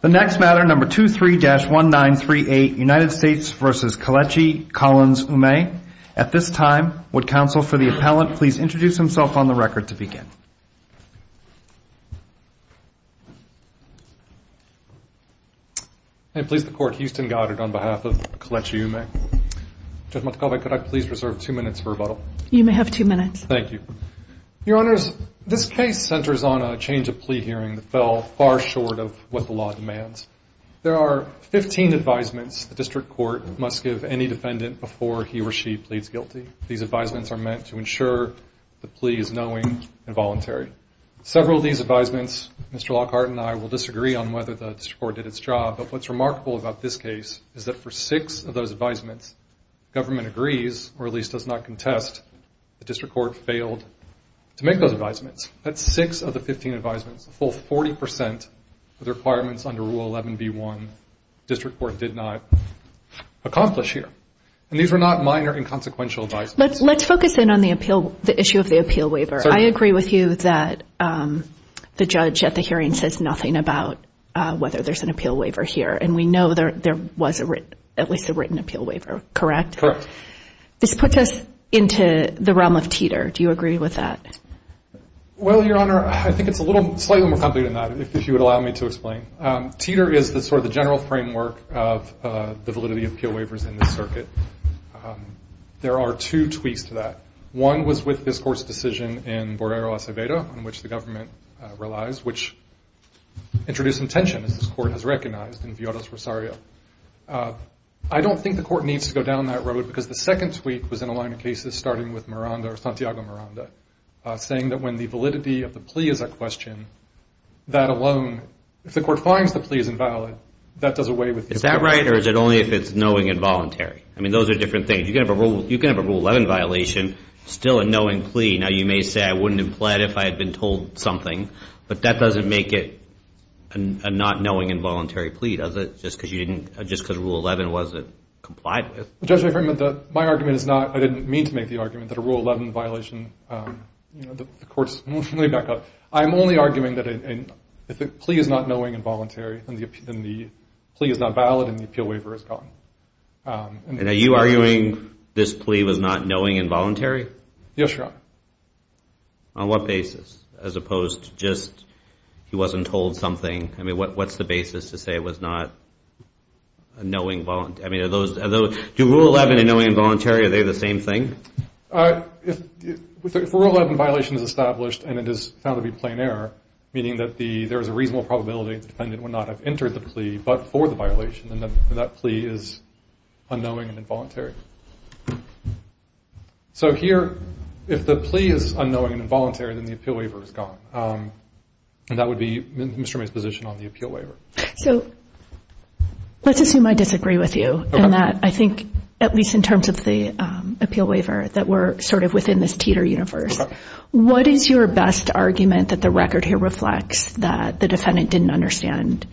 The next matter, No. 23-1938, United States v. Kelechi Collins Umeh. At this time, would counsel for the appellant please introduce himself on the record to begin. May it please the Court, Houston Goddard on behalf of Kelechi Umeh. Judge Montecalvo, could I please reserve two minutes for rebuttal? You may have two minutes. Thank you. Your Honors, this case centers on a change of plea hearing that fell far short of what the law demands. There are 15 advisements the district court must give any defendant before he or she pleads guilty. These advisements are meant to ensure the plea is knowing and voluntary. Several of these advisements, Mr. Lockhart and I will disagree on whether the district court did its job, but what's remarkable about this case is that for six of those advisements, government agrees, or at least does not contest, the district court failed to make those advisements. That's six of the 15 advisements, a full 40% of the requirements under Rule 11b-1, the district court did not accomplish here. And these were not minor and consequential advisements. Let's focus in on the appeal, the issue of the appeal waiver. I agree with you that the judge at the hearing says nothing about whether there's an appeal waiver here, and we know there was at least a written appeal waiver, correct? This puts us into the realm of Teeter. Do you agree with that? Well, Your Honor, I think it's a little slightly more complicated than that, if you would allow me to explain. Teeter is sort of the general framework of the validity of appeal waivers in this circuit. There are two tweaks to that. One was with this court's decision in Borrero Acevedo, on which the government relies, which introduced some tension, as this court has recognized, in Villarros Rosario. I don't think the court needs to go down that road, because the second tweak was in a line of cases, starting with Miranda or Santiago Miranda, saying that when the validity of the plea is at question, that alone, if the court finds the plea is invalid, that does away with the appeal. Is that right, or is it only if it's knowing and voluntary? I mean, those are different things. You can have a Rule 11 violation, still a knowing plea. Now, you may say I wouldn't have pled if I had been told something, but that doesn't make it a not knowing and voluntary plea, does it, just because Rule 11 wasn't complied with? Judge, my argument is not, I didn't mean to make the argument that a Rule 11 violation, you know, the court's, let me back up. I'm only arguing that if the plea is not knowing and voluntary, then the plea is not valid and the appeal waiver is gone. And are you arguing this plea was not knowing and voluntary? Yes, Your Honor. On what basis, as opposed to just he wasn't told something? I mean, what's the basis to say it was not knowing and voluntary? I mean, are those, do Rule 11 and knowing and voluntary, are they the same thing? If a Rule 11 violation is established and it is found to be plain error, meaning that there is a reasonable probability that the defendant would not have entered the plea but for the violation, then that plea is unknowing and involuntary. So here, if the plea is unknowing and involuntary, then the appeal waiver is gone. And that would be Mr. May's position on the appeal waiver. So let's assume I disagree with you. Okay. And that I think, at least in terms of the appeal waiver, that we're sort of within this teeter universe. Okay. What is your best argument that the record here reflects that the defendant didn't understand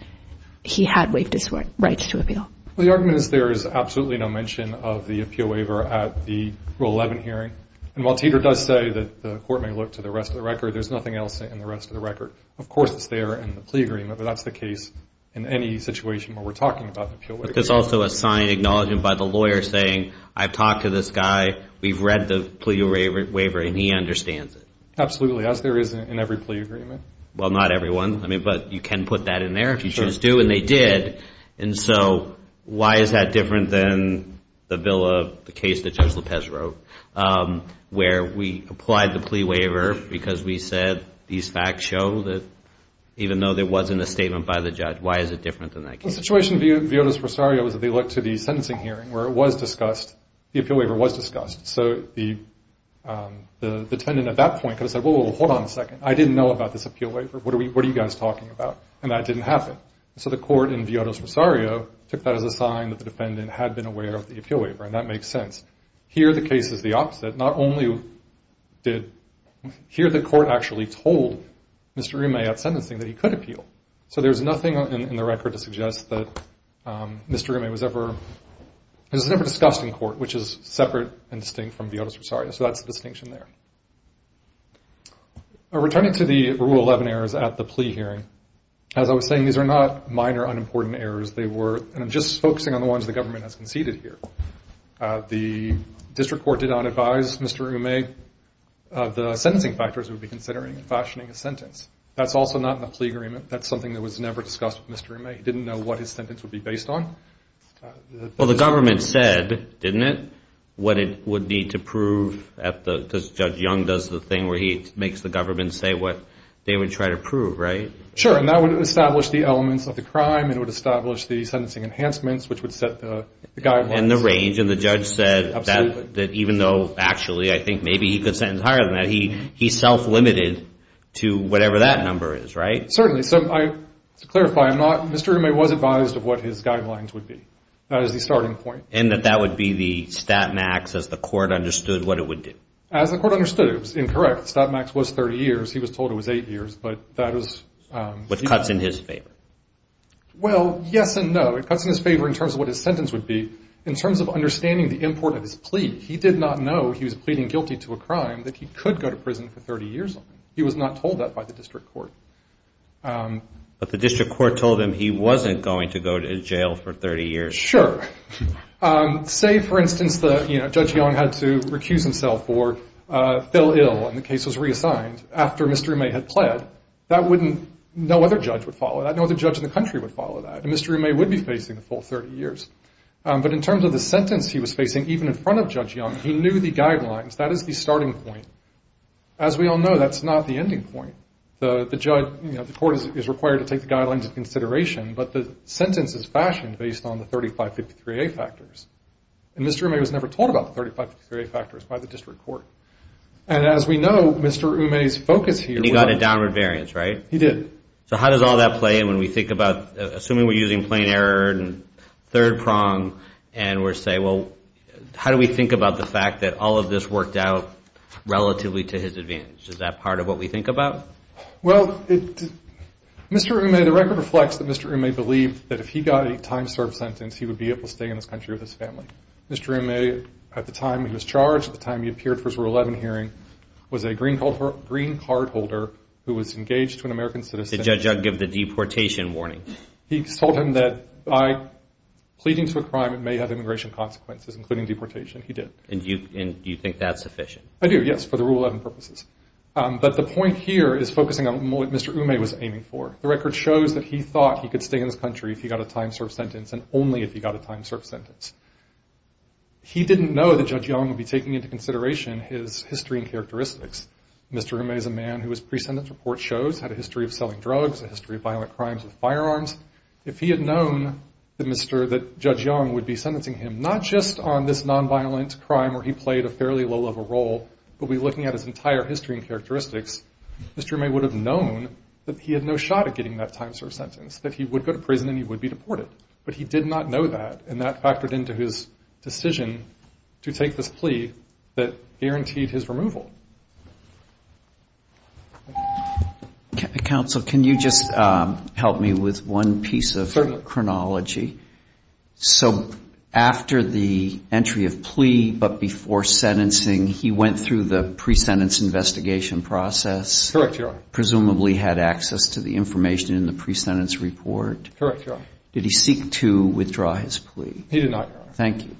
he had waived his rights to appeal? Well, the argument is there is absolutely no mention of the appeal waiver at the Rule 11 hearing. And while Teeter does say that the court may look to the rest of the record, there's nothing else in the rest of the record. Of course, it's there in the plea agreement, but that's the case in any situation where we're talking about the appeal waiver. But there's also a sign acknowledged by the lawyer saying, I've talked to this guy, we've read the plea waiver, and he understands it. Absolutely. As there is in every plea agreement. Well, not every one. I mean, but you can put that in there if you choose to, and they did. And so why is that different than the case that Judge Lopez wrote where we applied the plea waiver because we said these facts show that, even though there wasn't a statement by the judge, why is it different than that case? Well, the situation in Viotas-Rosario was that they looked to the sentencing hearing where it was discussed, the appeal waiver was discussed. So the defendant at that point could have said, well, hold on a second, I didn't know about this appeal waiver. What are you guys talking about? And that didn't happen. So the court in Viotas-Rosario took that as a sign that the defendant had been aware of the appeal waiver, and that makes sense. Here the case is the opposite. Not only did the court actually told Mr. Rime at sentencing that he could appeal. So there's nothing in the record to suggest that Mr. Rime was ever discussed in court, which is separate and distinct from Viotas-Rosario. So that's the distinction there. Returning to the Rule 11 errors at the plea hearing, as I was saying, these are not minor unimportant errors. They were just focusing on the ones the government has conceded here. The district court did not advise Mr. Rime of the sentencing factors it would be considering in fashioning a sentence. That's also not in the plea agreement. That's something that was never discussed with Mr. Rime. He didn't know what his sentence would be based on. Well, the government said, didn't it, what it would need to prove, because Judge Young does the thing where he makes the government say what they would try to prove, right? Sure, and that would establish the elements of the crime. It would establish the sentencing enhancements, which would set the guidelines. And the range. And the judge said that even though actually I think maybe he could sentence higher than that, he's self-limited to whatever that number is, right? Certainly. So to clarify, Mr. Rime was advised of what his guidelines would be. That was the starting point. And that that would be the stat max as the court understood what it would do. As the court understood. It was incorrect. The stat max was 30 years. He was told it was eight years, but that was. Which cuts in his favor. Well, yes and no. It cuts in his favor in terms of what his sentence would be. In terms of understanding the import of his plea, he did not know he was pleading guilty to a crime that he could go to prison for 30 years on. He was not told that by the district court. But the district court told him he wasn't going to go to jail for 30 years. Sure. Say, for instance, Judge Young had to recuse himself or fell ill and the case was reassigned after Mr. Rime had pled. No other judge would follow that. No other judge in the country would follow that. And Mr. Rime would be facing the full 30 years. But in terms of the sentence he was facing, even in front of Judge Young, he knew the guidelines. That is the starting point. As we all know, that's not the ending point. The court is required to take the guidelines into consideration, but the sentence is fashioned based on the 3553A factors. And Mr. Rime was never told about the 3553A factors by the district court. And as we know, Mr. Rime's focus here was... And he got a downward variance, right? He did. So how does all that play when we think about, assuming we're using plain error and third prong, and we're saying, well, how do we think about the fact that all of this worked out relatively to his advantage? Is that part of what we think about? Well, Mr. Rime, the record reflects that Mr. Rime believed that if he got a time-served sentence, he would be able to stay in this country with his family. Mr. Rime, at the time he was charged, at the time he appeared for his Rule 11 hearing, was a green card holder who was engaged to an American citizen. Did Judge Young give the deportation warning? He told him that by pleading to a crime, it may have immigration consequences, including deportation. He did. And do you think that's sufficient? I do, yes, for the Rule 11 purposes. But the point here is focusing on what Mr. Ume was aiming for. The record shows that he thought he could stay in this country if he got a time-served sentence, and only if he got a time-served sentence. He didn't know that Judge Young would be taking into consideration his history and characteristics. Mr. Ume is a man who, as pre-sentence report shows, had a history of selling drugs, a history of violent crimes with firearms. If he had known that Judge Young would be sentencing him, not just on this nonviolent crime where he played a fairly low-level role, but be looking at his entire history and characteristics, Mr. Ume would have known that he had no shot at getting that time-served sentence, that he would go to prison and he would be deported. But he did not know that, and that factored into his decision to take this plea that guaranteed his removal. Counsel, can you just help me with one piece of chronology? So after the entry of plea, but before sentencing, he went through the pre-sentence investigation process? Correct, Your Honor. Presumably had access to the information in the pre-sentence report? Correct, Your Honor. Did he seek to withdraw his plea? He did not, Your Honor. Thank you.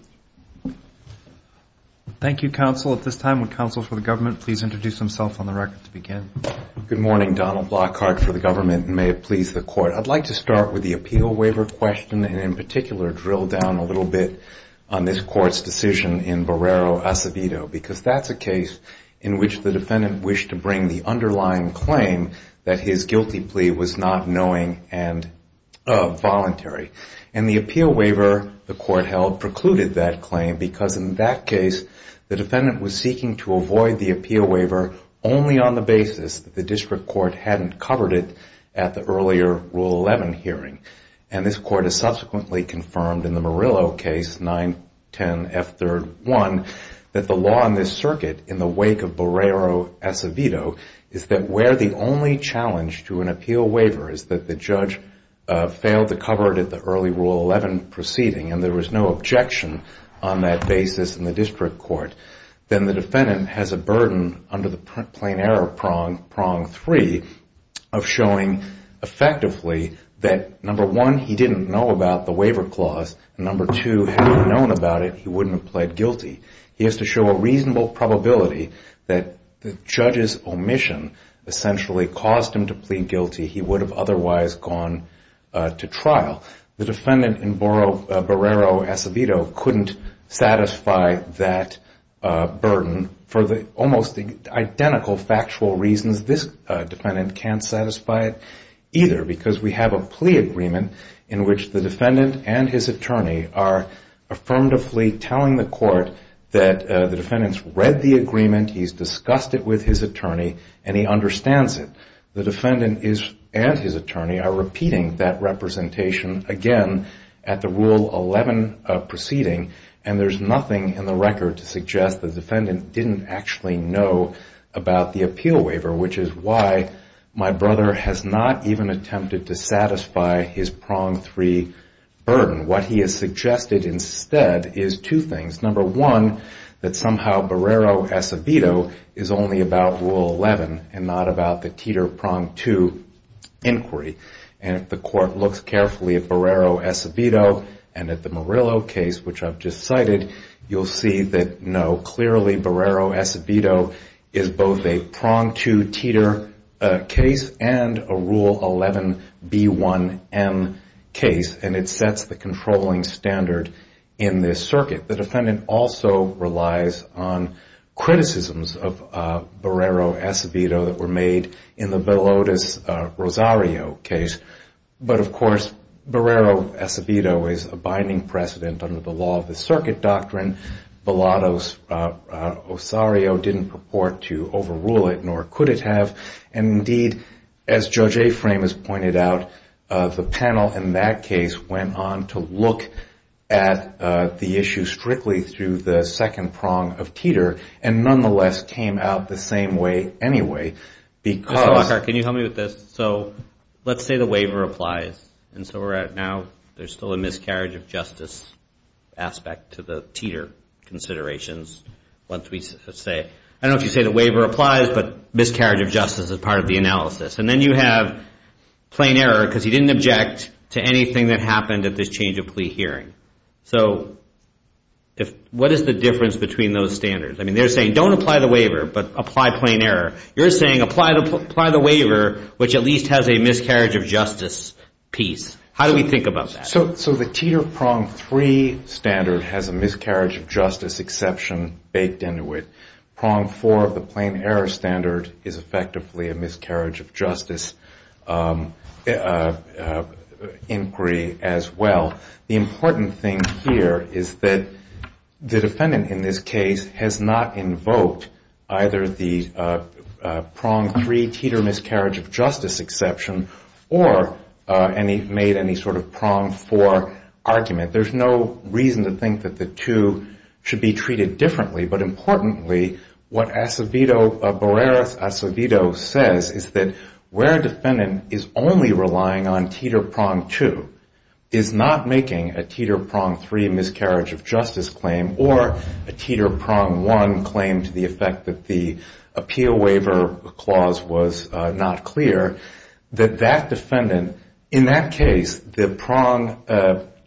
Thank you, Counsel. At this time, would Counsel for the Government please introduce himself on the record to begin? Good morning. Donald Blockhart for the Government, and may it please the Court. I'd like to start with the appeal waiver question, and in particular drill down a little bit on this Court's decision in Barrero Acevedo, because that's a case in which the defendant wished to bring the underlying claim that his guilty plea was not knowing and voluntary. And the appeal waiver the Court held precluded that claim, because in that case the defendant was seeking to avoid the appeal waiver only on the basis that the district court hadn't covered it at the earlier Rule 11 hearing. And this Court has subsequently confirmed in the Murillo case, 910F3-1, that the law in this circuit in the wake of Barrero Acevedo is that where the only challenge to an appeal waiver is that the judge failed to cover it at the early Rule 11 proceeding, and there was no objection on that basis in the district court, then the defendant has a burden under the plain error prong, prong 3, of showing effectively that, number one, he didn't know about the waiver clause, and number two, had he known about it, he wouldn't have pled guilty. He has to show a reasonable probability that the judge's omission essentially caused him to plead guilty. He would have otherwise gone to trial. The defendant in Barrero Acevedo couldn't satisfy that burden for almost identical factual reasons. This defendant can't satisfy it either, because we have a plea agreement in which the defendant and his attorney are affirmatively telling the Court that the defendant's read the agreement, he's discussed it with his attorney, and he understands it. The defendant and his attorney are repeating that representation again at the Rule 11 proceeding, and there's nothing in the record to suggest the defendant didn't actually know about the appeal waiver, which is why my brother has not even attempted to satisfy his prong 3 burden. What he has suggested instead is two things. Number one, that somehow Barrero Acevedo is only about Rule 11 and not about the teeter-prong 2 inquiry, and if the Court looks carefully at Barrero Acevedo and at the Murillo case, which I've just cited, you'll see that, no, clearly Barrero Acevedo is both a prong 2 teeter case and a Rule 11 B1M case, and it sets the controlling standard in this circuit. The defendant also relies on criticisms of Barrero Acevedo that were made in the Bellotus Rosario case, but, of course, Barrero Acevedo is a binding precedent under the law of the circuit doctrine. Bellotus Rosario didn't purport to overrule it, nor could it have, and, indeed, as Judge Aframe has pointed out, the panel in that case went on to look at the issue strictly through the second prong of teeter, and nonetheless came out the same way anyway, because... Mr. Lockhart, can you help me with this? So let's say the waiver applies, and so we're at now there's still a miscarriage of justice aspect to the teeter considerations. I don't know if you say the waiver applies, but miscarriage of justice is part of the analysis, and then you have plain error, because he didn't object to anything that happened at this change of plea hearing. So what is the difference between those standards? I mean, they're saying don't apply the waiver, but apply plain error. You're saying apply the waiver, which at least has a miscarriage of justice piece. How do we think about that? So the teeter prong 3 standard has a miscarriage of justice exception baked into it. Prong 4 of the plain error standard is effectively a miscarriage of justice inquiry as well. The important thing here is that the defendant in this case has not invoked either the prong 3 teeter miscarriage of justice exception, or made any sort of prong 4 argument. There's no reason to think that the two should be treated differently. But importantly, what Barreras Acevedo says is that where a defendant is only relying on teeter prong 2, is not making a teeter prong 3 miscarriage of justice claim or a teeter prong 1 claim to the effect that the appeal waiver clause was not clear, that that defendant, in that case, the prong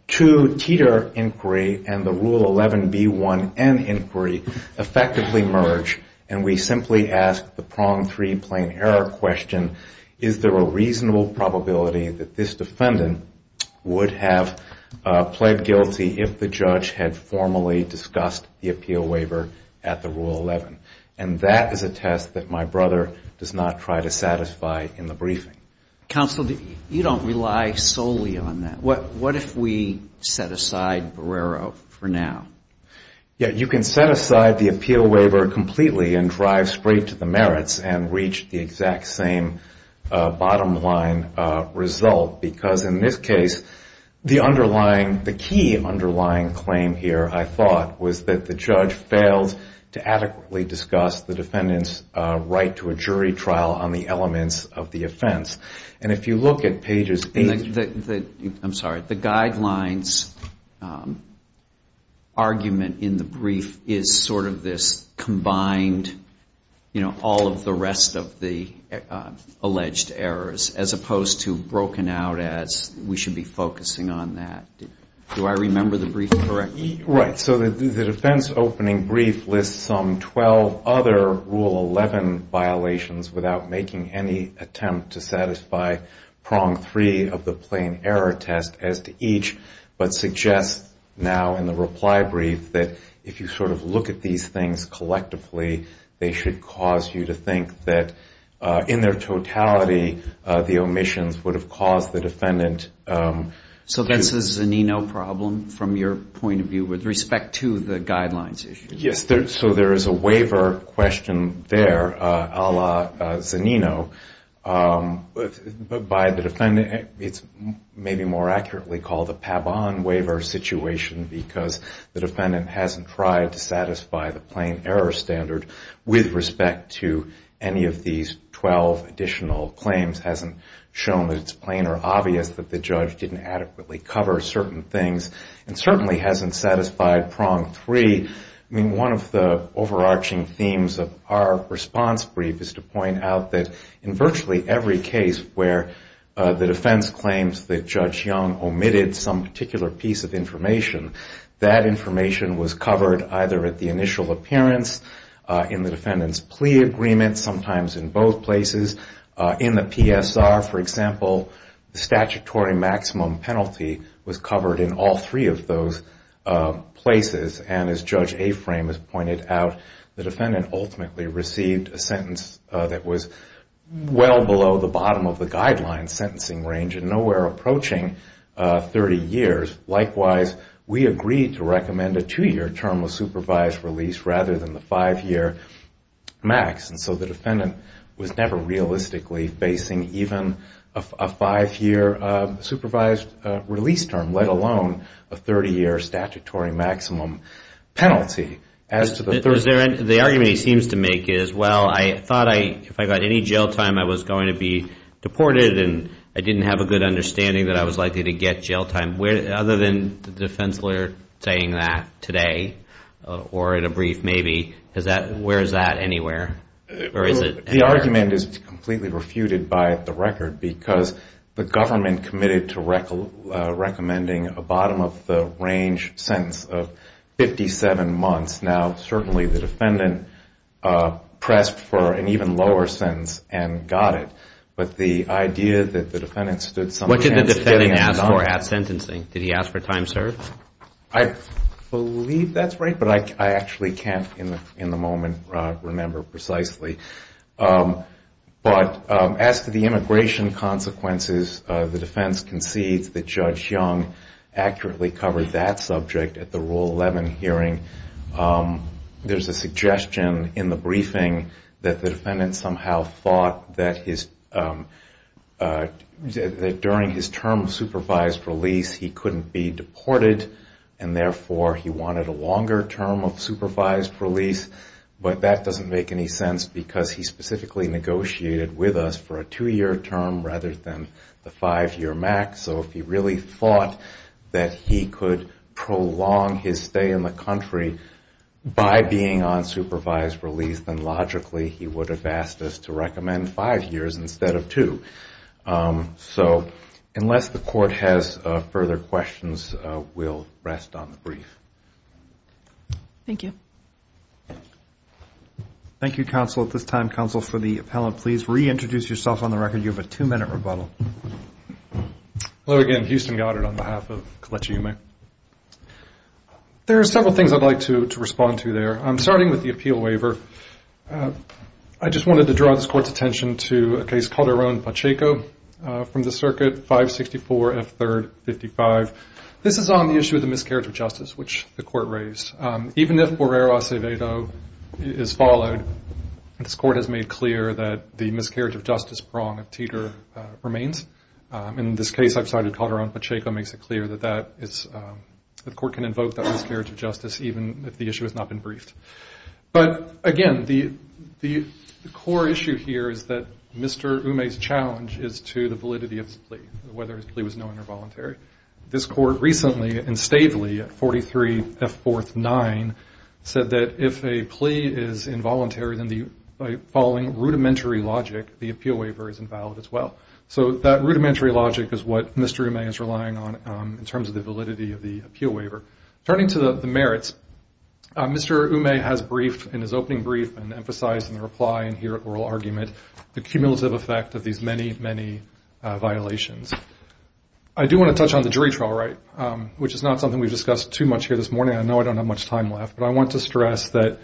2 teeter inquiry and the rule 11B1N inquiry effectively merge. And we simply ask the prong 3 plain error question, is there a reasonable probability that this defendant would have pled guilty if the judge had formally discussed the appeal waiver at the rule 11? And that is a test that my brother does not try to satisfy in the briefing. Counsel, you don't rely solely on that. What if we set aside Barrera for now? Yeah, you can set aside the appeal waiver completely and drive straight to the merits and reach the exact same bottom line result, because in this case, the underlying, the key underlying claim here, I thought, was that the judge failed to adequately discuss the defendant's right to a jury trial on the elements of the offense. And if you look at pages 8. I'm sorry. The guidelines argument in the brief is sort of this combined, you know, all of the rest of the alleged errors, as opposed to broken out as we should be focusing on that. Do I remember the brief correctly? Right. So the defense opening brief lists some 12 other rule 11 violations without making any attempt to satisfy prong 3 of the plain error test, as it were, but suggests now in the reply brief that if you sort of look at these things collectively, they should cause you to think that in their totality, the omissions would have caused the defendant. So this is a Zanino problem from your point of view with respect to the guidelines issue? Yes. So there is a waiver question there, a la Zanino. But by the defendant, it's maybe more accurately called a Paban waiver situation, because the defendant hasn't tried to satisfy the plain error standard with respect to any of these 12 additional claims. Hasn't shown that it's plain or obvious that the judge didn't adequately cover certain things, and certainly hasn't satisfied prong 3. I mean, one of the overarching themes of our response brief is to point out that in virtually every case where the defense claims that Judge Young omitted some particular piece of information, that information was covered either at the initial appearance, in the defendant's plea agreement, sometimes in both places, in the PSR, for example, the statutory maximum penalty was covered in all three of those places. As Judge Aframe has pointed out, the defendant ultimately received a sentence that was well below the bottom of the guideline sentencing range and nowhere approaching 30 years. Likewise, we agreed to recommend a two-year term of supervised release rather than the five-year max. And so the defendant was never realistically facing even a five-year supervised release term, let alone a 30-year statutory maximum penalty. The argument he seems to make is, well, I thought if I got any jail time, I was going to be deported, and I didn't have a good understanding that I was likely to get jail time. Other than the defense lawyer saying that today, or in a brief maybe, where is that anywhere? The argument is completely refuted by the record, because the government committed to recommending a bottom-of-the-range sentence of 57 months. Now, certainly the defendant pressed for an even lower sentence and got it. But the idea that the defendant stood some chance getting jail time. What did the defendant ask for at sentencing? Did he ask for time served? I believe that's right, but I actually can't in the moment remember precisely. But as to the immigration consequences, the defense concedes that Judge Young accurately covered that subject at the Rule 11 hearing. There's a suggestion in the briefing that the defendant somehow thought that during his term of supervised release, he couldn't be deported, and therefore he wanted a longer term of supervised release. But that doesn't make any sense, because he specifically negotiated with us for a two-year term rather than the five-year max. So if he really thought that he could prolong his stay in the country by being on supervised release, then logically he would have asked us to recommend five years instead of two. So unless the Court has further questions, we'll rest on the brief. Thank you. Hello again. Houston Goddard on behalf of Kelechi Yume. There are several things I'd like to respond to there, starting with the appeal waiver. I just wanted to draw this Court's attention to a case called Aaron Pacheco from the Circuit 564 F. 3rd 55. This is on the issue of the miscarriage of justice, which the Court raised. Even if Borrero Acevedo is followed, this Court has made clear that the miscarriage of justice prong of Teeter remains. And in this case, I've cited Cotter on Pacheco makes it clear that the Court can invoke that miscarriage of justice even if the issue has not been briefed. But again, the core issue here is that Mr. Yume's challenge is to the validity of his plea, whether his plea was known or voluntary. This Court recently and stately at 43 F. 4th 9 said that if a plea is involuntary, then by following rudimentary logic, the appeal waiver is invalid as well. So that rudimentary logic is what Mr. Yume is relying on in terms of the validity of the appeal waiver. Turning to the merits, Mr. Yume has briefed in his opening brief and emphasized in the reply and here at oral argument the cumulative effect of these many, many violations. I do want to touch on the jury trial right, which is not something we've discussed too much here this morning. I know I don't have much time left, but I want to stress that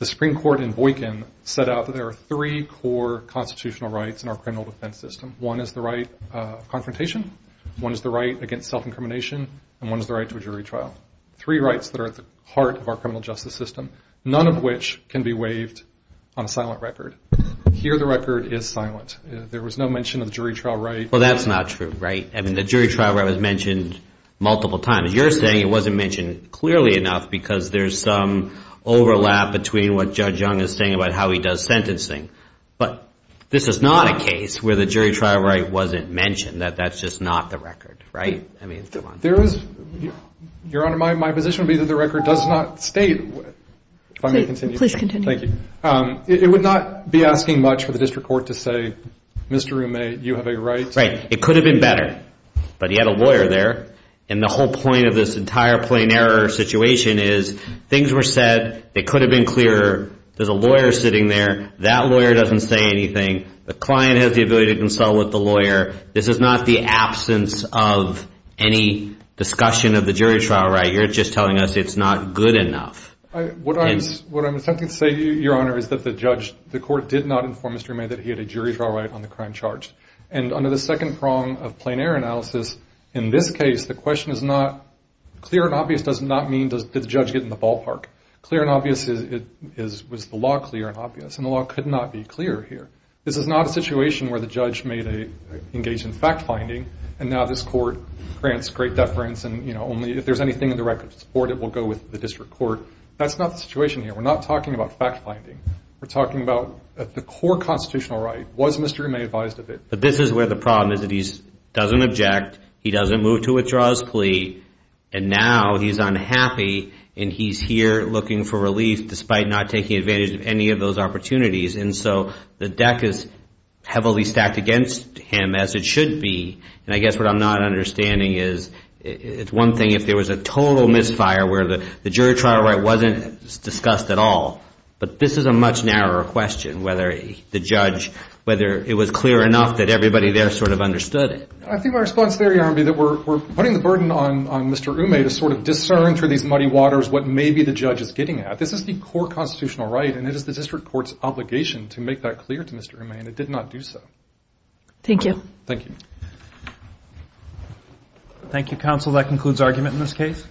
the Supreme Court in Boykin set out that there are three core constitutional rights in our criminal defense system. One is the right of confrontation, one is the right against self-incrimination, and one is the right to a jury trial. Three rights that are at the heart of our criminal justice system, none of which can be waived on a silent record. Here the record is silent. There was no mention of jury trial right. Well, that's not true, right? I mean, the jury trial right was mentioned multiple times. You're saying it wasn't mentioned clearly enough because there's some overlap between what Judge Young is saying about how he does sentencing. But this is not a case where the jury trial right wasn't mentioned, that that's just not the record, right? Your Honor, my position would be that the record does not state. It would not be asking much for the district court to say, Mr. Roommate, you have a right. It could have been better, but he had a lawyer there, and the whole point of this entire plain error situation is things were said, it could have been clearer, there's a lawyer sitting there, that lawyer doesn't say anything, the client has the ability to consult with the lawyer, this is not the absence of any discussion of the jury trial right. You're just telling us it's not good enough. What I'm attempting to say, Your Honor, is that the court did not inform Mr. Roommate that he had a jury trial right on the crime charged. And under the second prong of plain error analysis, in this case, the question is not clear and obvious does not mean does the judge get in the ballpark. Clear and obvious was the law clear and obvious, and the law could not be clear here. This is not a situation where the judge may engage in fact finding, and now this court grants great deference, and only if there's anything in the record to support it will go with the district court. That's not the situation here. We're not talking about fact finding. We're talking about the core constitutional right. Was Mr. Roommate advised of it? But this is where the problem is that he doesn't object, he doesn't move to withdraw his plea, and now he's unhappy, and he's here looking for relief despite not taking advantage of any of those opportunities. And so the deck is heavily stacked against him as it should be, and I guess what I'm not understanding is, it's one thing if there was a total misfire where the jury trial right wasn't discussed at all, but this is a much narrower question, whether the judge, whether it was clear enough that everybody there sort of understood it. I think my response there, Your Honor, would be that we're putting the burden on Mr. Roommate to sort of discern through these muddy waters what maybe the judge is getting at. This is the core constitutional right, and it is the district court's obligation to make that clear to Mr. Roommate, and it did not do so. Thank you. Thank you, counsel. That concludes argument in this case.